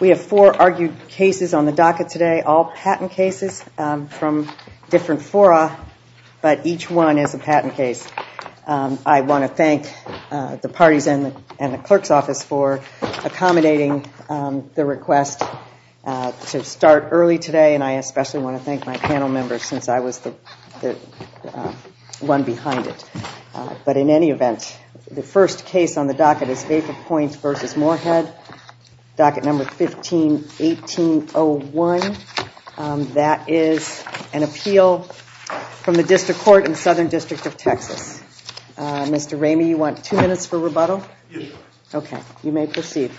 We have four argued cases on the docket today, all patent cases from different fora, but each one is a patent case. I want to thank the parties and the clerk's office for accommodating the request to start early today, and I especially want to thank my panel members since I was the one behind it. But in any event, the first case on the docket is Vapor Point v. Moorhead, docket number 151801. That is an appeal from the District Court in Southern District of Texas. Mr. Ramey, you want two minutes for rebuttal? Okay, you may proceed.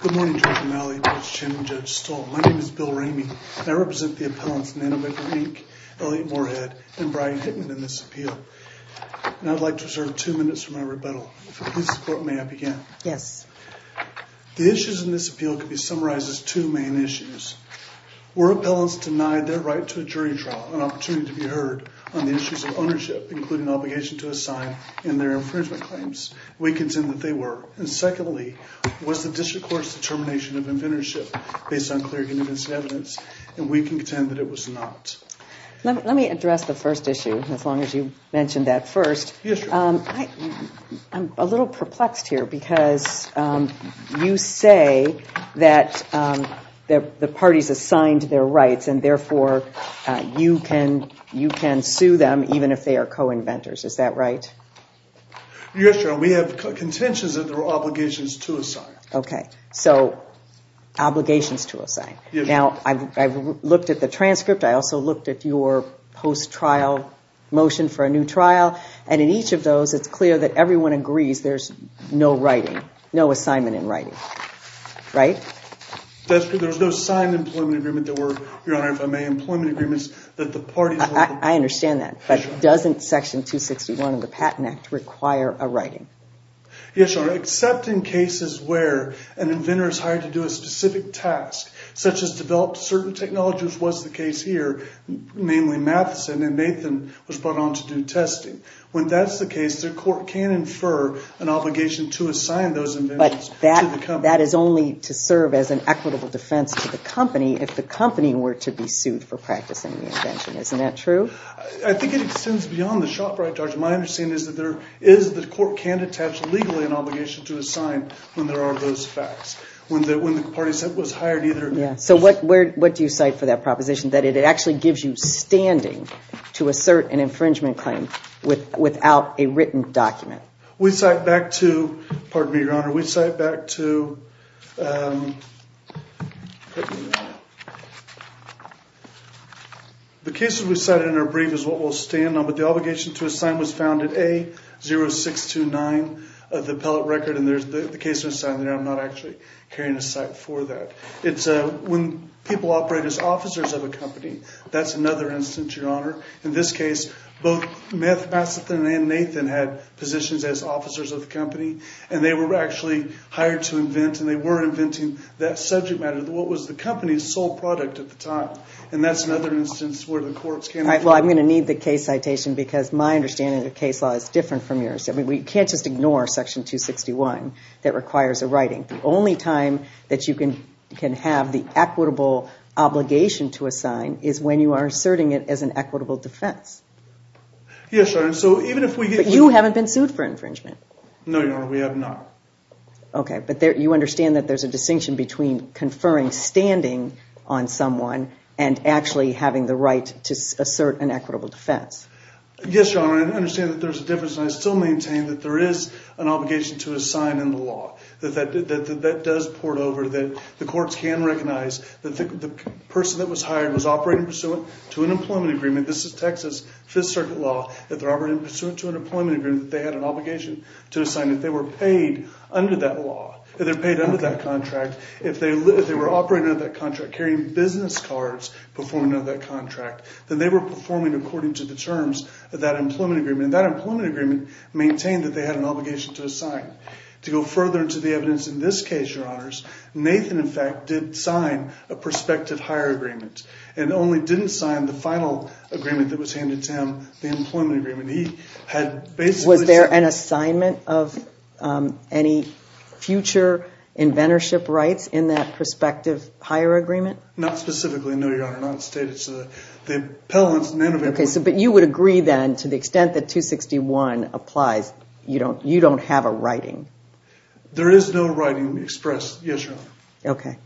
Good morning, Judge O'Malley, Judge Chen, and Judge Stoltz. My name is Bill Ramey, and I represent the appellants Nano Vapor Inc., Elliott Moorhead, and Brian Hickman in this appeal. And I'd like to reserve two minutes for my rebuttal. If it pleases the court, may I begin? Yes. The issues in this appeal can be summarized as two main issues. Were appellants denied their right to a jury trial, an opportunity to be heard on the issues of inventorship, including obligation to assign in their infringement claims? We contend that they were. And secondly, was the District Court's determination of inventorship based on clear evidence and evidence? And we contend that it was not. Let me address the first issue as long as you mentioned that first. I'm a little perplexed here because you say that the parties assigned their rights, and therefore, you can sue them even if they are co-inventors. Is that right? Yes, Your Honor. We have contentions of their obligations to assign. Okay. So, obligations to assign. Now, I've looked at the transcript. I also looked at your post-trial motion for a new trial. And in each of those, it's clear that everyone agrees there's no writing, no assignment in writing. Right? There's no signed employment agreement, Your Honor, if I may. Employment agreements that the parties... I understand that. But doesn't Section 261 of the Patent Act require a writing? Yes, Your Honor, except in cases where an inventor is hired to do a specific task, such as develop certain technologies, was the case here, namely Matheson, and Nathan was brought on to do testing. When that's the case, the court can infer an obligation to assign those inventions to the company. That is only to serve as an equitable defense to the company if the company were to be sued for practicing the invention. Isn't that true? I think it extends beyond the shop right, Judge. My understanding is that the court can attach legally an obligation to assign when there are those facts. When the parties that was hired either... Yeah. So, what do you cite for that proposition? That it actually gives you standing to assert an infringement claim without a written document? We cite back to... Pardon me, Your Honor. We cite back to... The cases we cite in our brief is what we'll stand on, but the obligation to assign was found at A0629 of the appellate record, and there's the case we're citing there. I'm not actually carrying a cite for that. It's when people operate as officers of a company. That's another instance, Your Honor. In this case, both Matheson and Nathan had positions as officers of the company, and they were actually hired to invent, and they were inventing that subject matter, what was the company's sole product at the time, and that's another instance where the courts can... Well, I'm going to need the case citation because my understanding of the case law is different from yours. I mean, we can't just ignore Section 261 that requires a writing. The only time that you can have the equitable obligation to assign is when you are asserting it as an equitable defense. Yes, Your Honor, so even if we get... But you haven't been sued for infringement. No, Your Honor, we have not. Okay, but you understand that there's a distinction between conferring standing on someone and actually having the right to assert an equitable defense. Yes, Your Honor, and I understand that there's a difference, and I still maintain that there is an obligation to the person that was hired was operating pursuant to an employment agreement. This is Texas Fifth Circuit law. If they're operating pursuant to an employment agreement, they had an obligation to assign. If they were paid under that law, if they're paid under that contract, if they were operating under that contract, carrying business cards, performing under that contract, then they were performing according to the terms of that employment agreement, and that employment agreement maintained that they had an obligation to assign. To go further into the evidence in this case, Your Honors, Nathan, in fact, did sign a prospective hire agreement and only didn't sign the final agreement that was handed to him, the employment agreement. He had basically... Was there an assignment of any future inventorship rights in that prospective hire agreement? Not specifically, no, Your Honor, not stated. Okay, but you would agree then to the extent that 261 applies, you don't have a right There is no right expressed, yes, Your Honor. Okay.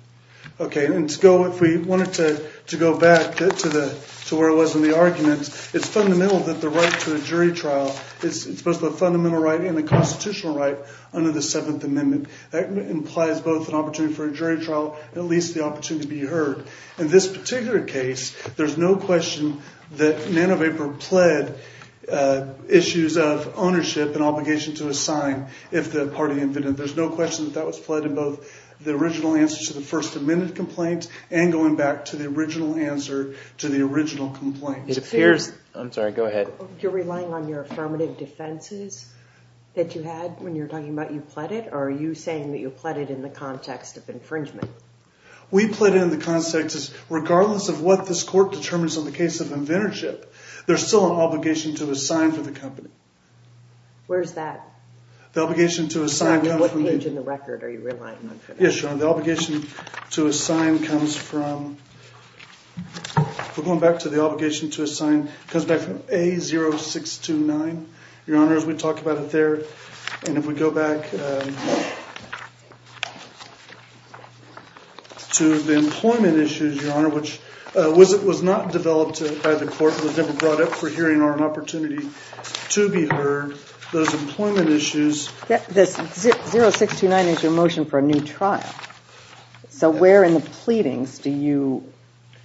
Okay, and to go... If we wanted to go back to where it was in the arguments, it's fundamental that the right to a jury trial is supposed to be a fundamental right and a constitutional right under the Seventh Amendment. That implies both an opportunity for a jury trial and at least the opportunity to be heard. In this particular case, there's no question that NanoVapor pled issues of ownership and there's no question that that was pled in both the original answer to the First Amendment complaint and going back to the original answer to the original complaint. It appears... I'm sorry, go ahead. You're relying on your affirmative defenses that you had when you're talking about you pled it or are you saying that you pled it in the context of infringement? We pled in the context is regardless of what this court determines on the case of inventorship, there's still an obligation to assign for the company. Where's that? The obligation to assign... What page in the record are you relying on? Yes, Your Honor. The obligation to assign comes from... We're going back to the obligation to assign. It comes back from A0629. Your Honor, as we talk about it there and if we go back to the employment issues, Your Honor, which was not developed by the court and was never brought up for hearing or an opportunity to be heard, those employment issues... A0629 is your motion for a new trial. So where in the pleadings do you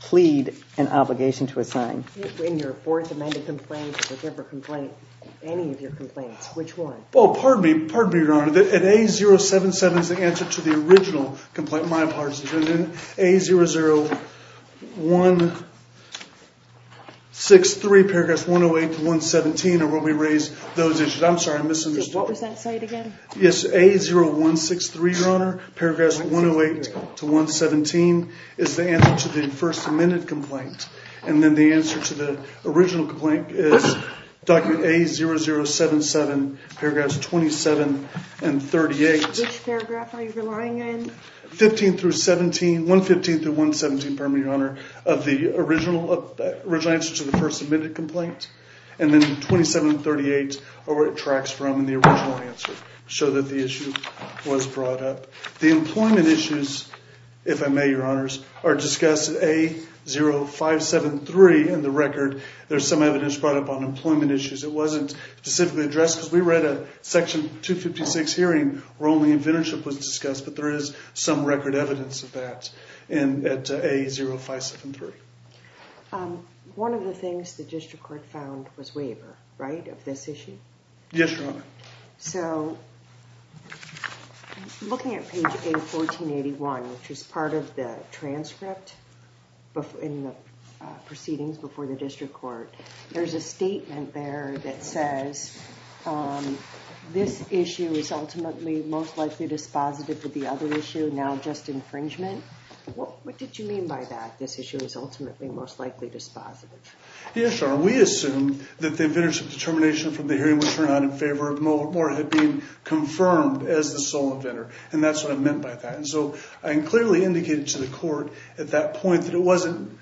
plead an obligation to assign? In your Fourth Amendment complaint or whichever complaint, any of your complaints, which one? Well, pardon me. Pardon me, Your Honor. At A077 is the answer to the original complaint. My apologies. And then A00163, paragraphs 108 to 117 are where we raise those issues. I'm sorry, I misunderstood. What was that site again? Yes, A0163, Your Honor, paragraphs 108 to 117 is the answer to the First Amendment complaint. And then the answer to the original complaint is document A0077, paragraphs 27 and 38. Which paragraph are you relying on? 15 through 17, 115 through 117, pardon me, Your Honor, of the original answer to the First Amendment complaint. And then 27 and 38 are where it tracks from in the original answer, show that the issue was brought up. The employment issues, if I may, Your Honors, are discussed at A0573 in the record. There's some evidence brought up on employment issues. It wasn't specifically addressed because we read a Section 256 hearing where only inventorship was discussed, but there is some record evidence of that at A0573. One of the things the district court found was waiver, right, of this issue? Yes, Your Honor. So looking at page A1481, which is part of the transcript in the proceedings before the district court, there's a statement there that says this issue is ultimately most likely dispositive of the other issue, now just infringement. What did you mean by that, this issue is ultimately most likely dispositive? Yes, Your Honor, we assume that the inventorship determination from the hearing was turned out in favor of Moore had been confirmed as the sole inventor, and that's what I meant by that. And so I clearly indicated to the court at that point that it wasn't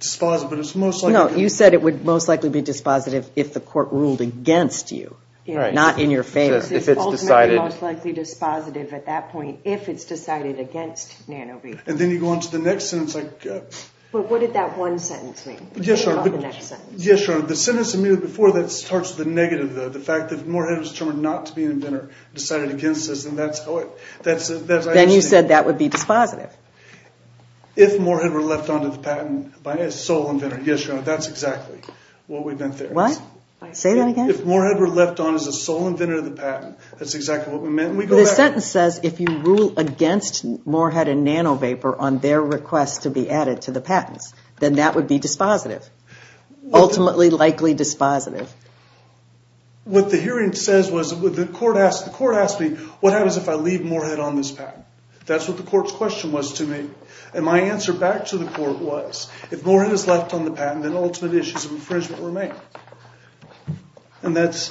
dispositive, but it's most likely... No, you said it would most likely be dispositive if the court ruled against you, not in your favor. It's ultimately most likely dispositive at that point if it's decided against Nanobee. And then you go on to the next sentence like... But what did that one sentence mean? Yes, Your Honor, the sentence immediately before that starts with the negative, the fact that Moore had been determined not to be an inventor, decided against this, and that's how it... Then you said that would be dispositive. If Moore had been left on to the patent by a sole inventor, yes, Your Honor, that's exactly what we meant there. What? Say that again? If Moore had been left on as a sole inventor of the patent, that's exactly what we meant. The sentence says if you rule against Moore had and Nano Vapor on their request to be added to the patents, then that would be dispositive, ultimately likely dispositive. What the hearing says was, the court asked me, what happens if I leave Moore had on this patent? That's what the court's question was to me. And my answer back to the court was, if Moore had is left on the patent, then ultimate issues of infringement remain. And that's,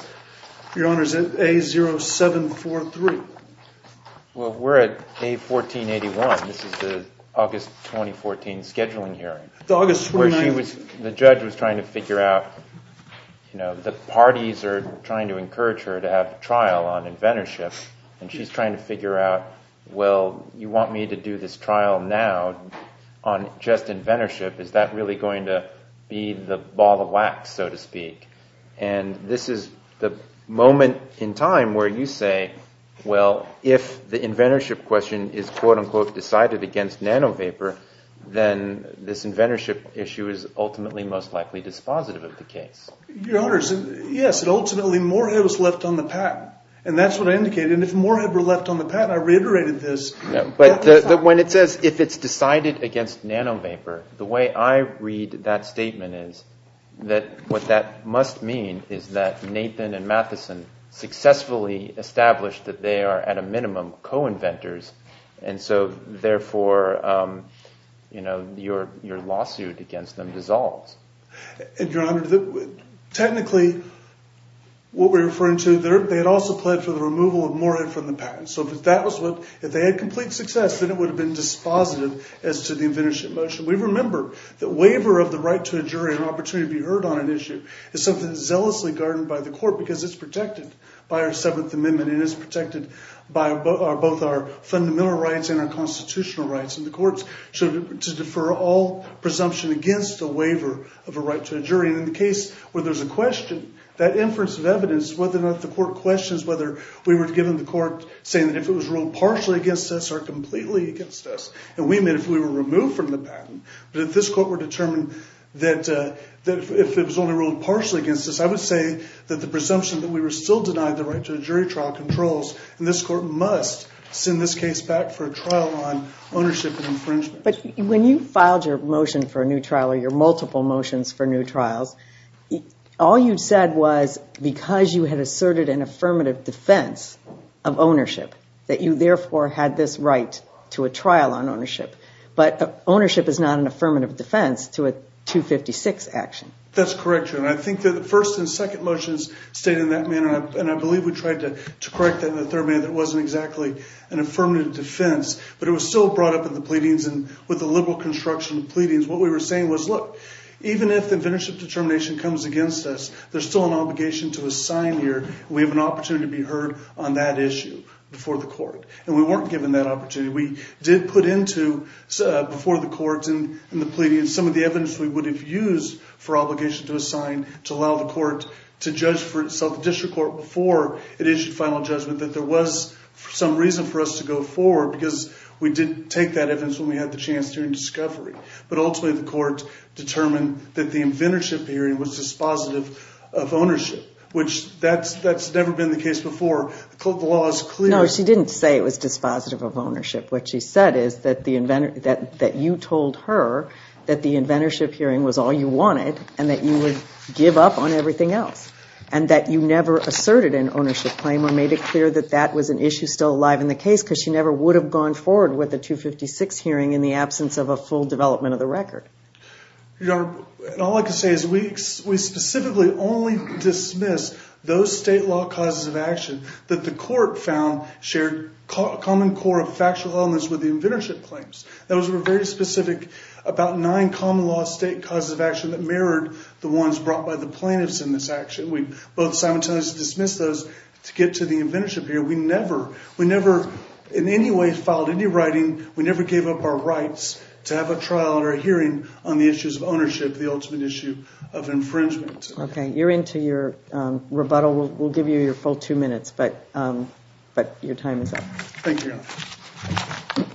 Your Honor, A0743. Well, we're at A1481. This is the August 2014 scheduling hearing. The judge was trying to figure out, you know, the parties are trying to encourage her to have trial on inventorship. And she's trying to figure out, well, you want me to do this trial now on just inventorship? Is that really going to be the ball of wax, so to speak? And this is the moment in time where you say, well, if the inventorship question is, quote unquote, decided against Nano Vapor, then this inventorship issue is ultimately most likely dispositive of the case. Your Honor, yes, and ultimately Moore had was left on the patent. And that's what I indicated. And if Moore had were left on the patent, I reiterated this. But when it says, if it's decided against Nano Vapor, the way I read that statement is that what that must mean is that Nathan and Matheson successfully established that they are, at a minimum, co-inventors. And so, therefore, you know, your lawsuit against them dissolves. And, Your Honor, technically, what we're referring to there, they had also pled for the removal of Moore from the patent. So if that was what, if they had complete success, then it would have been dispositive as to the inventorship motion. We remember that waiver of the right to a jury and opportunity to be heard on an issue is something zealously guarded by the court because it's protected by our Seventh Amendment and is protected by both our fundamental rights and constitutional rights. And the courts should defer all presumption against the waiver of a right to a jury. And in the case where there's a question, that inference of evidence, whether or not the court questions whether we were given the court saying that if it was ruled partially against us or completely against us, and we meant if we were removed from the patent, but if this court were determined that if it was only ruled partially against us, I would say that the presumption that we were still denied the right to a jury trial controls, and this court must send this back for a trial on ownership and infringement. But when you filed your motion for a new trial, or your multiple motions for new trials, all you said was because you had asserted an affirmative defense of ownership, that you therefore had this right to a trial on ownership, but ownership is not an affirmative defense to a 256 action. That's correct. And I think that the first and second motions stayed in that manner. And I believe we tried to correct that in the defense, but it was still brought up in the pleadings, and with the liberal construction of pleadings, what we were saying was, look, even if the venerative determination comes against us, there's still an obligation to assign here, and we have an opportunity to be heard on that issue before the court. And we weren't given that opportunity. We did put into before the courts and the pleadings some of the evidence we would have used for obligation to assign to allow the court to judge for itself, the district court before it issued final judgment, that there was some reason for us to go forward, because we didn't take that evidence when we had the chance during discovery. But ultimately, the court determined that the inventorship hearing was dispositive of ownership, which that's never been the case before. The law is clear. No, she didn't say it was dispositive of ownership. What she said is that you told her that the inventorship hearing was all you wanted, and that you would give up on everything else, and that you never asserted an ownership claim or made it clear that that was an issue still alive in the case, because she never would have gone forward with a 256 hearing in the absence of a full development of the record. Your Honor, all I can say is we specifically only dismiss those state law causes of action that the court found shared a common core of factual elements with the inventorship claims. Those were very specific, about nine common law state causes of action that mirrored the ones brought by the plaintiffs in this action. We both simultaneously dismiss those to get to the inventorship hearing. We never, in any way, filed any writing. We never gave up our rights to have a trial or a hearing on the issues of ownership, the ultimate issue of infringement. Okay, you're into your rebuttal. We'll give you your full two minutes, but your time is up. Thank you, Your Honor.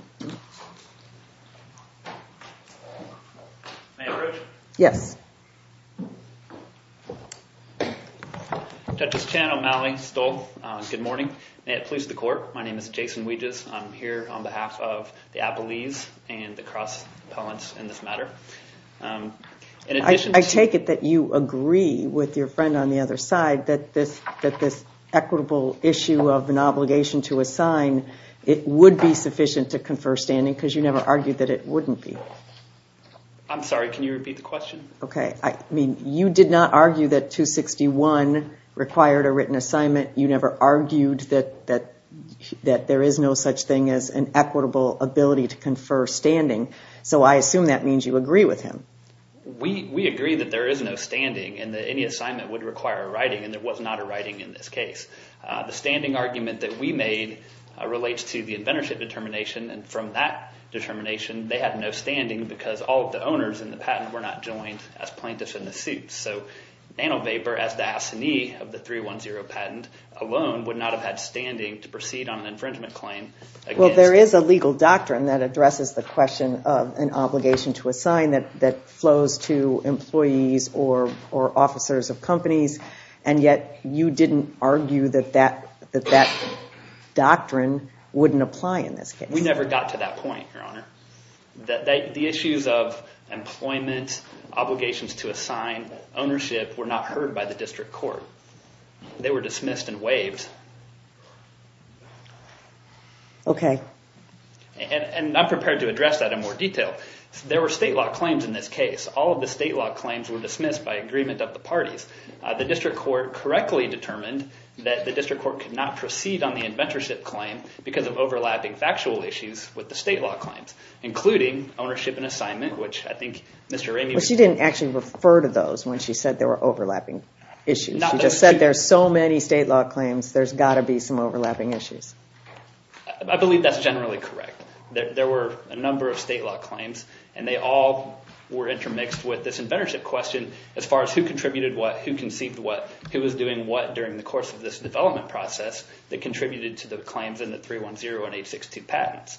May I approach? Yes. Judges Chan, O'Malley, Stoll, good morning. May it please the court, my name is Jason Weges. I'm here on behalf of the Appellees and the cross appellants in this matter. I take it that you agree with your friend on the other side that this equitable issue of an obligation to assign, it would be sufficient to confer standing because you never argued that it wouldn't be. I'm sorry, can you repeat the question? Okay, I mean, you did not argue that 261 required a written assignment. You never argued that there is no such thing as an equitable ability to confer standing, so I assume that means you agree with him. We agree that there is no standing and that any assignment would require a writing, and there was not a writing in this case. The standing argument that we made relates to the inventorship determination, and from that determination, they had no standing because all of the owners in the patent were not joined as plaintiffs in the suit. So, Nano Vapor, as the assignee of the 310 patent alone, would not have standing to proceed on an infringement claim. Well, there is a legal doctrine that addresses the question of an obligation to assign that flows to employees or officers of companies, and yet you didn't argue that that doctrine wouldn't apply in this case. We never got to that point, Your Honor. The issues of employment, obligations to assign, ownership were not heard by the district court. They were dismissed and waived. Okay. And I'm prepared to address that in more detail. There were state law claims in this case. All of the state law claims were dismissed by agreement of the parties. The district court correctly determined that the district court could not proceed on the inventorship claim because of overlapping factual issues with the state law claims, including ownership and assignment, which I think Mr. Ramey... Well, she didn't actually refer to those when she said there were overlapping issues. She just said there's so many state law claims, there's got to be some overlapping issues. I believe that's generally correct. There were a number of state law claims, and they all were intermixed with this inventorship question as far as who contributed what, who conceived what, who was doing what during the course of this development process that contributed to the claims in the 310 and 862 patents.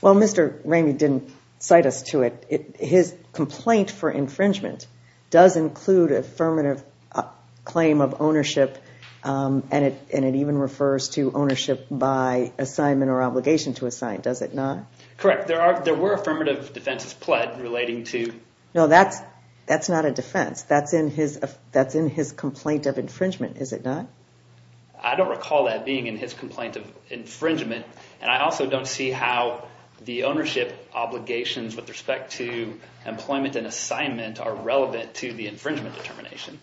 Well, Mr. Ramey didn't cite us to it. His complaint for infringement does include affirmative claim of ownership, and it even refers to ownership by assignment or obligation to assign, does it not? Correct. There were affirmative defenses pled relating to... No, that's not a defense. That's in his complaint of infringement, is it not? I don't recall that being in his complaint of infringement, and I also don't see how the ownership obligations with respect to employment and assignment are relevant to the infringement determination.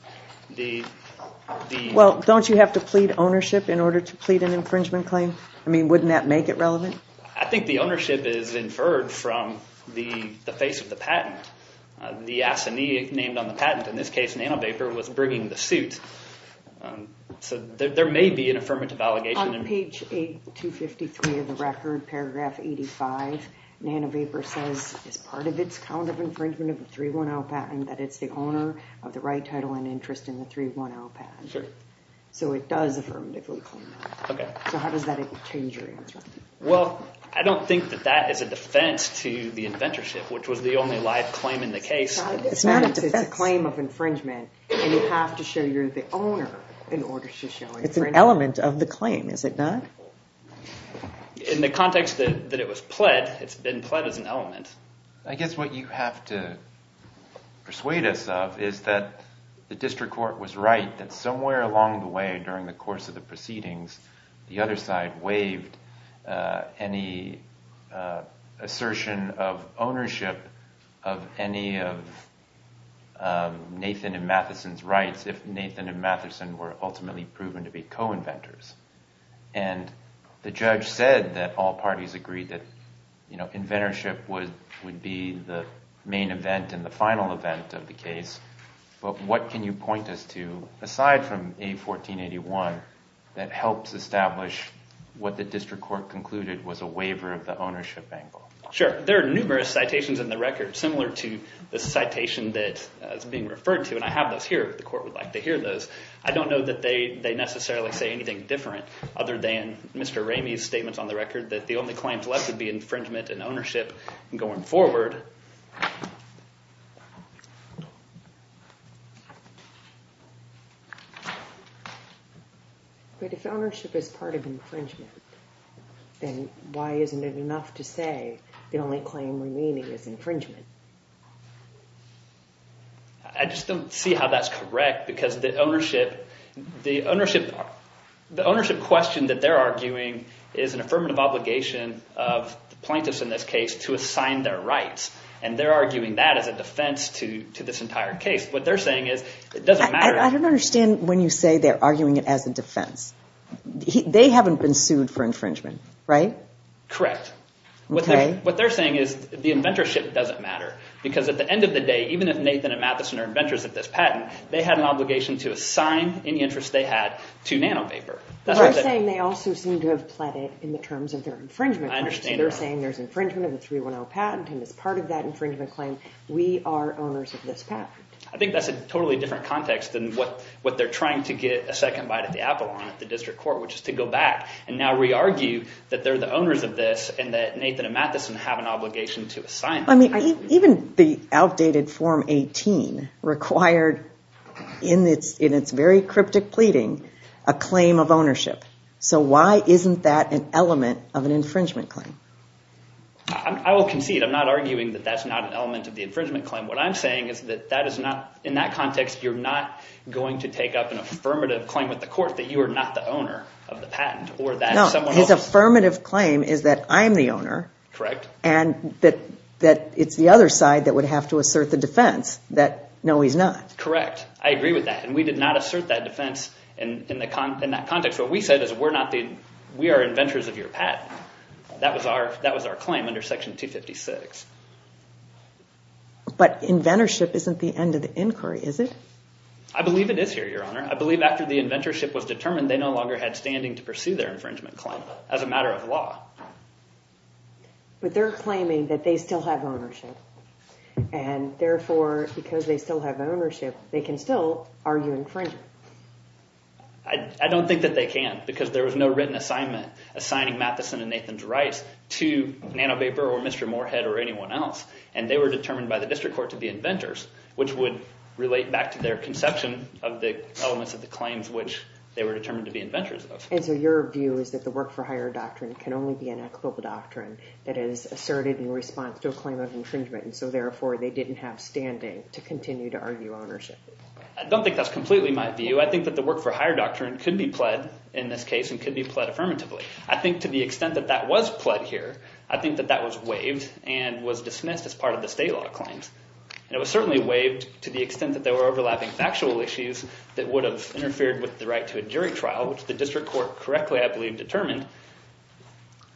Well, don't you have to plead ownership in order to plead an infringement claim? I mean, wouldn't that make it relevant? I think the ownership is inferred from the face of the patent. The assignee named on the patent, in this case NanoVapor, was bringing the suit, so there may be an affirmative allegation. On page 253 of the record, paragraph 85, NanoVapor says, as part of its count of infringement of the 310 patent, that it's the owner of the right title and interest in the 310 patent. So it does affirmatively claim that. Okay. So how does that change your answer? Well, I don't think that that is a defense to the inventorship, which was the only live claim in the case. It's not a defense. It's a claim of infringement, and you have to show you're the is it not? In the context that it was pled, it's been pled as an element. I guess what you have to persuade us of is that the district court was right that somewhere along the way during the course of the proceedings, the other side waived any assertion of ownership of any of Nathan and Matheson's rights if Nathan and Matheson were ultimately proven to be co-inventors. And the judge said that all parties agreed that inventorship would be the main event and the final event of the case. But what can you point us to, aside from A1481, that helps establish what the district court concluded was a waiver of the ownership angle? Sure. There are numerous citations in the record similar to the citation that is being referred to, and I have those here if the court would like to hear those. I don't know that they necessarily say anything different other than Mr. Ramey's statements on the record that the only claims left would be infringement and ownership going forward. But if ownership is part of infringement, then why isn't it enough to say the only claim remaining is infringement? I just don't see how that's correct, because the ownership question that they're arguing is an affirmative obligation of the plaintiffs in this case to assign their rights, and they're arguing that as a defense to this entire case. What they're saying is it doesn't matter. I don't understand when you say they're arguing it as a defense. They haven't been sued for infringement, right? Correct. What they're saying is the inventorship doesn't matter. At the end of the day, even if Nathan and Matheson are inventors of this patent, they had an obligation to assign any interest they had to Nano Vapor. They're saying they also seem to have pled it in the terms of their infringement. I understand. They're saying there's infringement of the 310 patent, and as part of that infringement claim, we are owners of this patent. I think that's a totally different context than what they're trying to get a second bite at the apple on at the district court, which is to go back and now re-argue that they're the owners of Nathan and Matheson have an obligation to assign. Even the outdated form 18 required, in its very cryptic pleading, a claim of ownership. Why isn't that an element of an infringement claim? I will concede. I'm not arguing that that's not an element of the infringement claim. What I'm saying is that in that context, you're not going to take up an affirmative claim with the court that you are not the owner of the patent. His affirmative claim is that I'm the owner. Correct. And that it's the other side that would have to assert the defense that no, he's not. Correct. I agree with that. We did not assert that defense in that context. What we said is we are inventors of your patent. That was our claim under Section 256. But inventorship isn't the end of the inquiry, is it? I believe it is here, Your Honor. I believe after the inventorship was determined, they no longer had standing to pursue their infringement claim as a matter of law. But they're claiming that they still have ownership. And therefore, because they still have ownership, they can still argue infringement. I don't think that they can, because there was no written assignment assigning Matheson and Nathan's rights to Nano Vapor or Mr. Moorhead or anyone else. And they were determined by the district court to be inventors, which would relate back to their conception of the elements of the claims which they were determined to be inventors of. And so your view is that the work for hire doctrine can only be an equitable doctrine that is asserted in response to a claim of infringement. And so therefore, they didn't have standing to continue to argue ownership. I don't think that's completely my view. I think that the work for hire doctrine could be pled in this case and could be pled affirmatively. I think to the extent that that was pled here, I think that that was waived and was dismissed as part of the state law claims. And it was certainly waived to the extent that there were overlapping factual issues that would have interfered with the right to a jury trial, which the district court correctly, I believe, determined.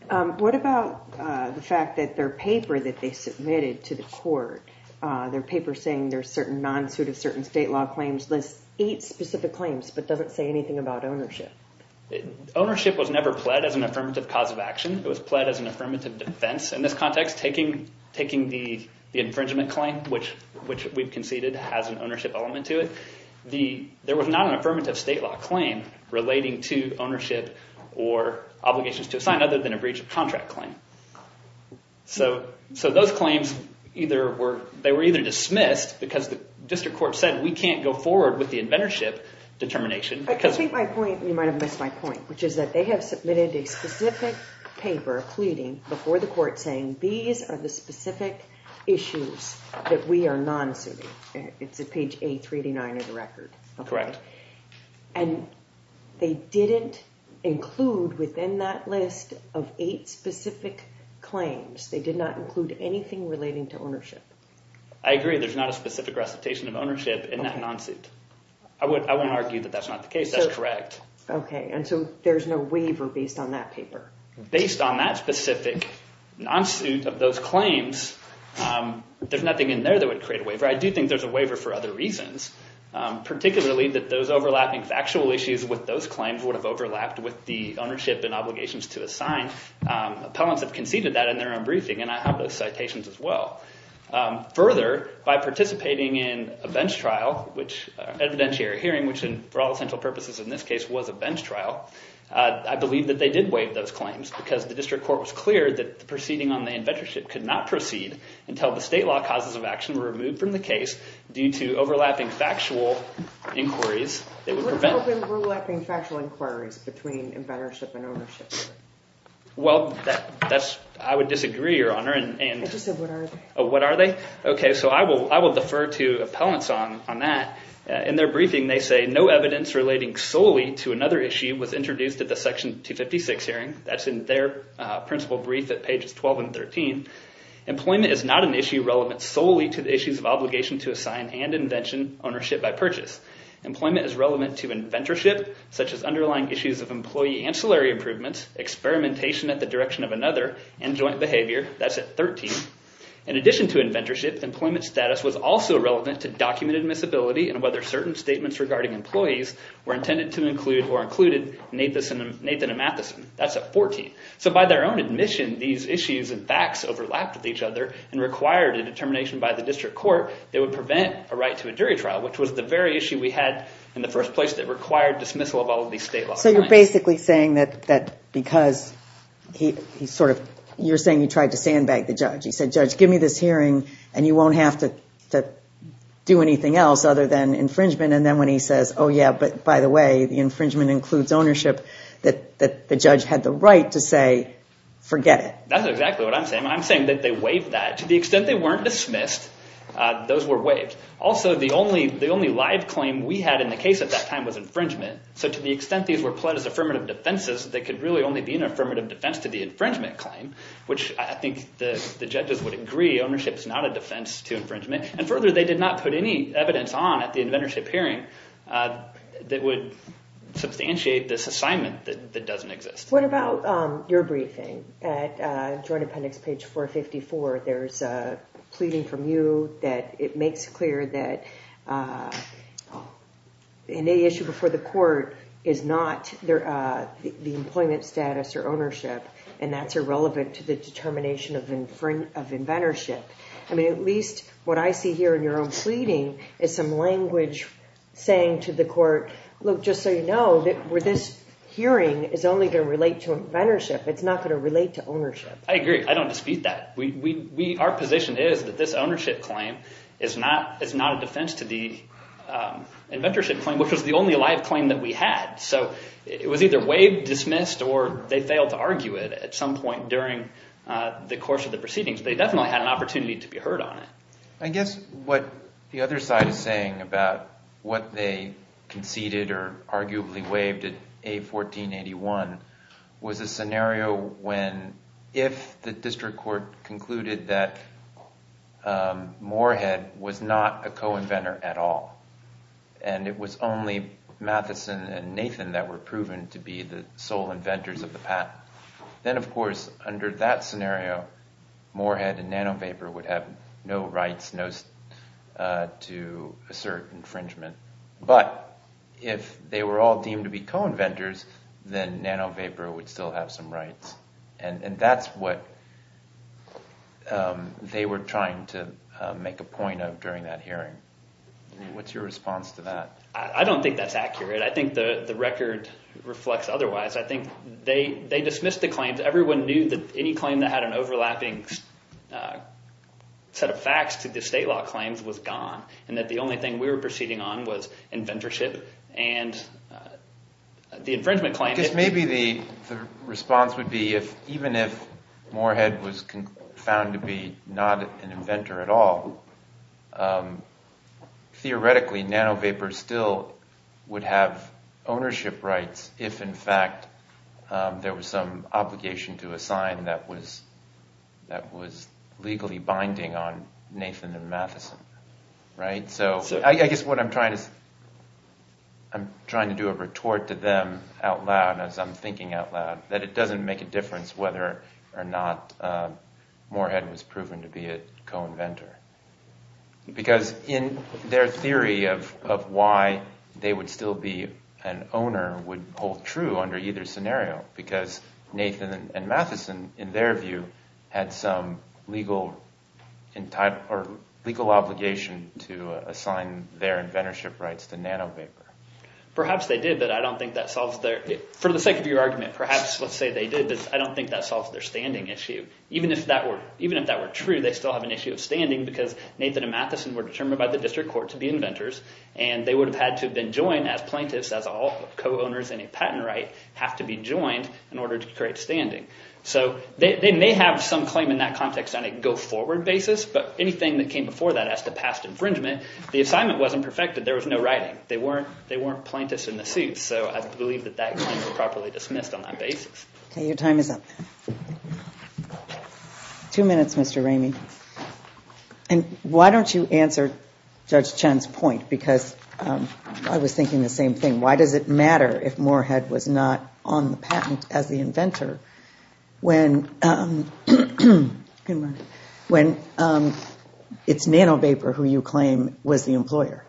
What about the fact that their paper that they submitted to the court, their paper saying there's certain non-suit of certain state law claims lists eight specific claims but doesn't say anything about ownership? Ownership was never pled as an affirmative cause of action. It was pled as an affirmative defense in this context, taking the infringement claim, which we've conceded has an ownership element to it. There was not an affirmative state law claim relating to ownership or obligations to assign other than a breach of contract claim. So those claims, they were either dismissed because the district court said we can't go forward with the inventorship determination. I think my point, you might have missed my point, which is that they have submitted a specific paper pleading before the court saying these are the specific issues that we are non-suiting. It's at page A389 of the record. Correct. And they didn't include within that list of eight specific claims. They did not include anything relating to ownership. I agree. There's not a specific recitation of ownership in that non-suit. I wouldn't argue that that's not the case. That's correct. Okay. And so there's no waiver based on that paper. Based on that specific non-suit of those claims, there's nothing in there that would create a waiver. I do think there's a waiver for other reasons, particularly that those overlapping factual issues with those claims would have overlapped with the ownership and obligations to assign. Appellants have conceded that in their own briefing, and I have those citations as well. Further, by participating in a bench trial, evidentiary hearing, which for all essential purposes in this case was a bench trial, I believe that they did waive those claims because the district court was clear that the proceeding on the inventorship could not proceed until the state law causes of action were removed from the case due to overlapping factual inquiries. Overlapping factual inquiries between inventorship and ownership. Well, I would disagree, Your Honor. I just said, what are they? What are they? Okay. So I will defer to appellants on that. In their briefing, they say no evidence relating solely to another issue was introduced at the Section 256 hearing. That's in their principal brief at pages 12 and 13. Employment is not an issue relevant solely to the issues of obligation to assign and invention ownership by purchase. Employment is relevant to inventorship, such as underlying issues of employee ancillary improvements, experimentation at the direction of another, and joint behavior. That's at 13. In addition to inventorship, employment status was also relevant to document admissibility and whether certain statements regarding employees were intended to include or included Nathan and Matheson. That's at 14. So by their own admission, these issues and facts overlapped with each other and required a determination by the district court they would prevent a right to a jury trial, which was the very issue we had in the first place that required dismissal of all of these state laws. So you're basically saying that because he sort of, you're saying he tried to sandbag the judge. He said, judge, give me this hearing and you won't have to do anything else other than infringement. And then when he says, oh yeah, but by the way, the infringement includes ownership, that the judge had the right to say, forget it. That's exactly what I'm saying. I'm saying that they waived that. To the extent they weren't dismissed, those were waived. Also, the only live claim we had in the case at that time was infringement. So to the extent these were pled as affirmative defenses, they could really only be an affirmative defense to the infringement claim, which I think the judges would agree ownership is not a defense to infringement. And further, they did not put any evidence on at the inventorship hearing that would substantiate this assignment that doesn't exist. What about your briefing at Joint Appendix page 454? There's a pleading from you that it makes clear that an issue before the court is not the employment status or ownership, and that's irrelevant to the determination of inventorship. I mean, at least what I see here in your own pleading is some language saying to the court, look, just so you know, this hearing is only going to relate to inventorship. It's not going to relate to ownership. I agree. I don't dispute that. Our position is that this ownership claim is not a defense to the inventorship claim, which was the only live claim that we had. So it was either waived, dismissed, or they failed to argue it at some point during the course of the proceedings. They definitely had an opportunity to be heard on it. I guess what the other side is saying about what they conceded or arguably waived at A1481 was a scenario when if the district court concluded that Moorhead was not a co-inventor at all, and it was only Matheson and Nathan that were proven to be the sole inventors of the patent, then, of course, under that scenario, Moorhead and Nano Vapor would have no rights to assert infringement. But if they were all deemed to be co-inventors, then Nano Vapor would still have some rights. And that's what they were trying to make a point of during that hearing. What's your response to that? I don't think that's accurate. I think the record reflects otherwise. I think they dismissed the set of facts that the state law claims was gone and that the only thing we were proceeding on was inventorship and the infringement claim. I guess maybe the response would be if even if Moorhead was found to be not an inventor at all, theoretically, Nano Vapor still would have ownership rights if, in fact, there was some obligation to assign that was legally binding on Nathan and Matheson. So I guess what I'm trying to do is I'm trying to do a retort to them out loud, as I'm thinking out loud, that it doesn't make a difference whether or not Moorhead was proven to be a co-inventor. Because in their theory of why they would still be an owner would hold true under either scenario because Nathan and Matheson, in their view, had some legal obligation to assign their inventorship rights to Nano Vapor. Perhaps they did, but I don't think that solves their... For the sake of your argument, perhaps let's say they did, but I don't think that solves their standing issue. Even if that were true, they still have an issue of standing because Nathan and Matheson were determined by the district court to be inventors and they would have had to have been joined as plaintiffs, as all co-owners in a patent right have to be joined in order to create standing. So they have some claim in that context on a go-forward basis, but anything that came before that as to past infringement, the assignment wasn't perfected. There was no writing. They weren't plaintiffs in the suit. So I believe that that claim was properly dismissed on that basis. Okay, your time is up. Two minutes, Mr. Ramey. And why don't you answer Judge Chen's point? Because I was thinking the same thing. Why does it matter if Moorhead was not on the patent as the inventor when it's Nano Vapor who you claim was the employer?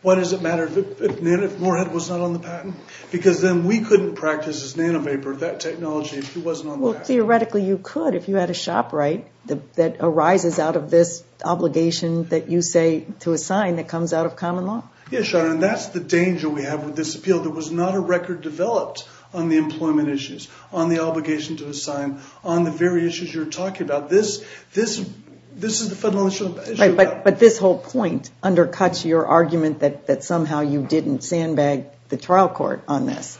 Why does it matter if Moorhead was not on the patent? Because then we couldn't practice as Nano Vapor that technology if he wasn't on the patent. Theoretically, you could if you had a shop right that arises out of this obligation that you say to assign that comes out of common law. Yes, Your Honor, and that's the danger we have with this appeal. There was not a record developed on the employment issues, on the obligation to assign, on the very issues you're talking about. But this whole point undercuts your argument that somehow you didn't sandbag the trial court on this.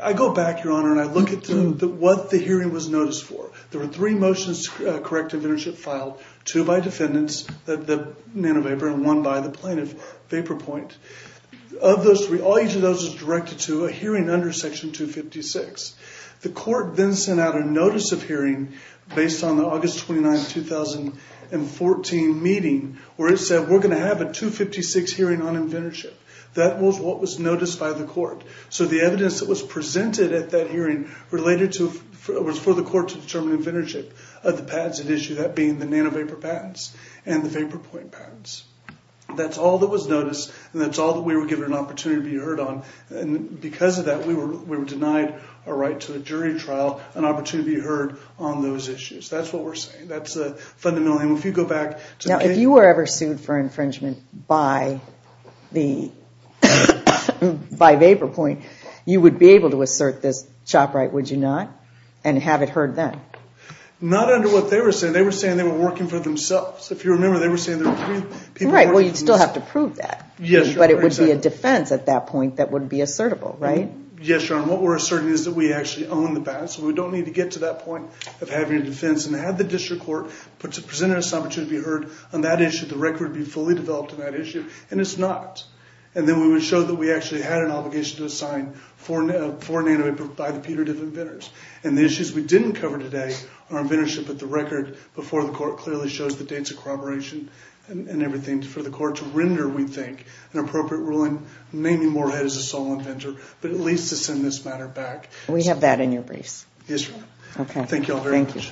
I go back, Your Honor, and I look at what the hearing was noticed for. There were three motions to correct inventorship filed, two by defendants, the Nano Vapor, and one by the plaintiff, Vapor Point. Of those three, all each of those was directed to a hearing under Section 256. The court then sent out a notice of hearing based on the August 29, 2014 meeting where it said, we're going to have a 256 hearing on inventorship. That was what was noticed by the court. So the evidence that was presented at that hearing related to, was for the court to determine inventorship of the patents at issue, that being the Nano Vapor patents and the Vapor Point patents. That's all that was noticed, and that's all that we were given an opportunity to be heard on. And because of that, we were denied a right to a jury trial, an opportunity to be heard on those issues. That's what we're saying. That's a fundamental, and if you go back to the case... Now, if you were ever sued for infringement by Vapor Point, you would be able to assert this chop right, would you not? And have it heard then? Not under what they were saying. They were saying they were working for themselves. If Right. Well, you'd still have to prove that. Yes, sure. But it would be a defense at that point that would be assertable, right? Yes, your honor. What we're asserting is that we actually own the patent, so we don't need to get to that point of having a defense. And had the district court presented us an opportunity to be heard on that issue, the record would be fully developed on that issue, and it's not. And then we would show that we actually had an obligation to assign four Nano Vapor by the punitive inventors. And the issues we didn't cover today on inventorship, but the record before the court clearly shows the dates of corroboration and everything for the court to render, we think, an appropriate ruling, naming Moorhead as a sole inventor, but at least to send this matter back. We have that in your briefs. Yes, your honor. Thank you all very much.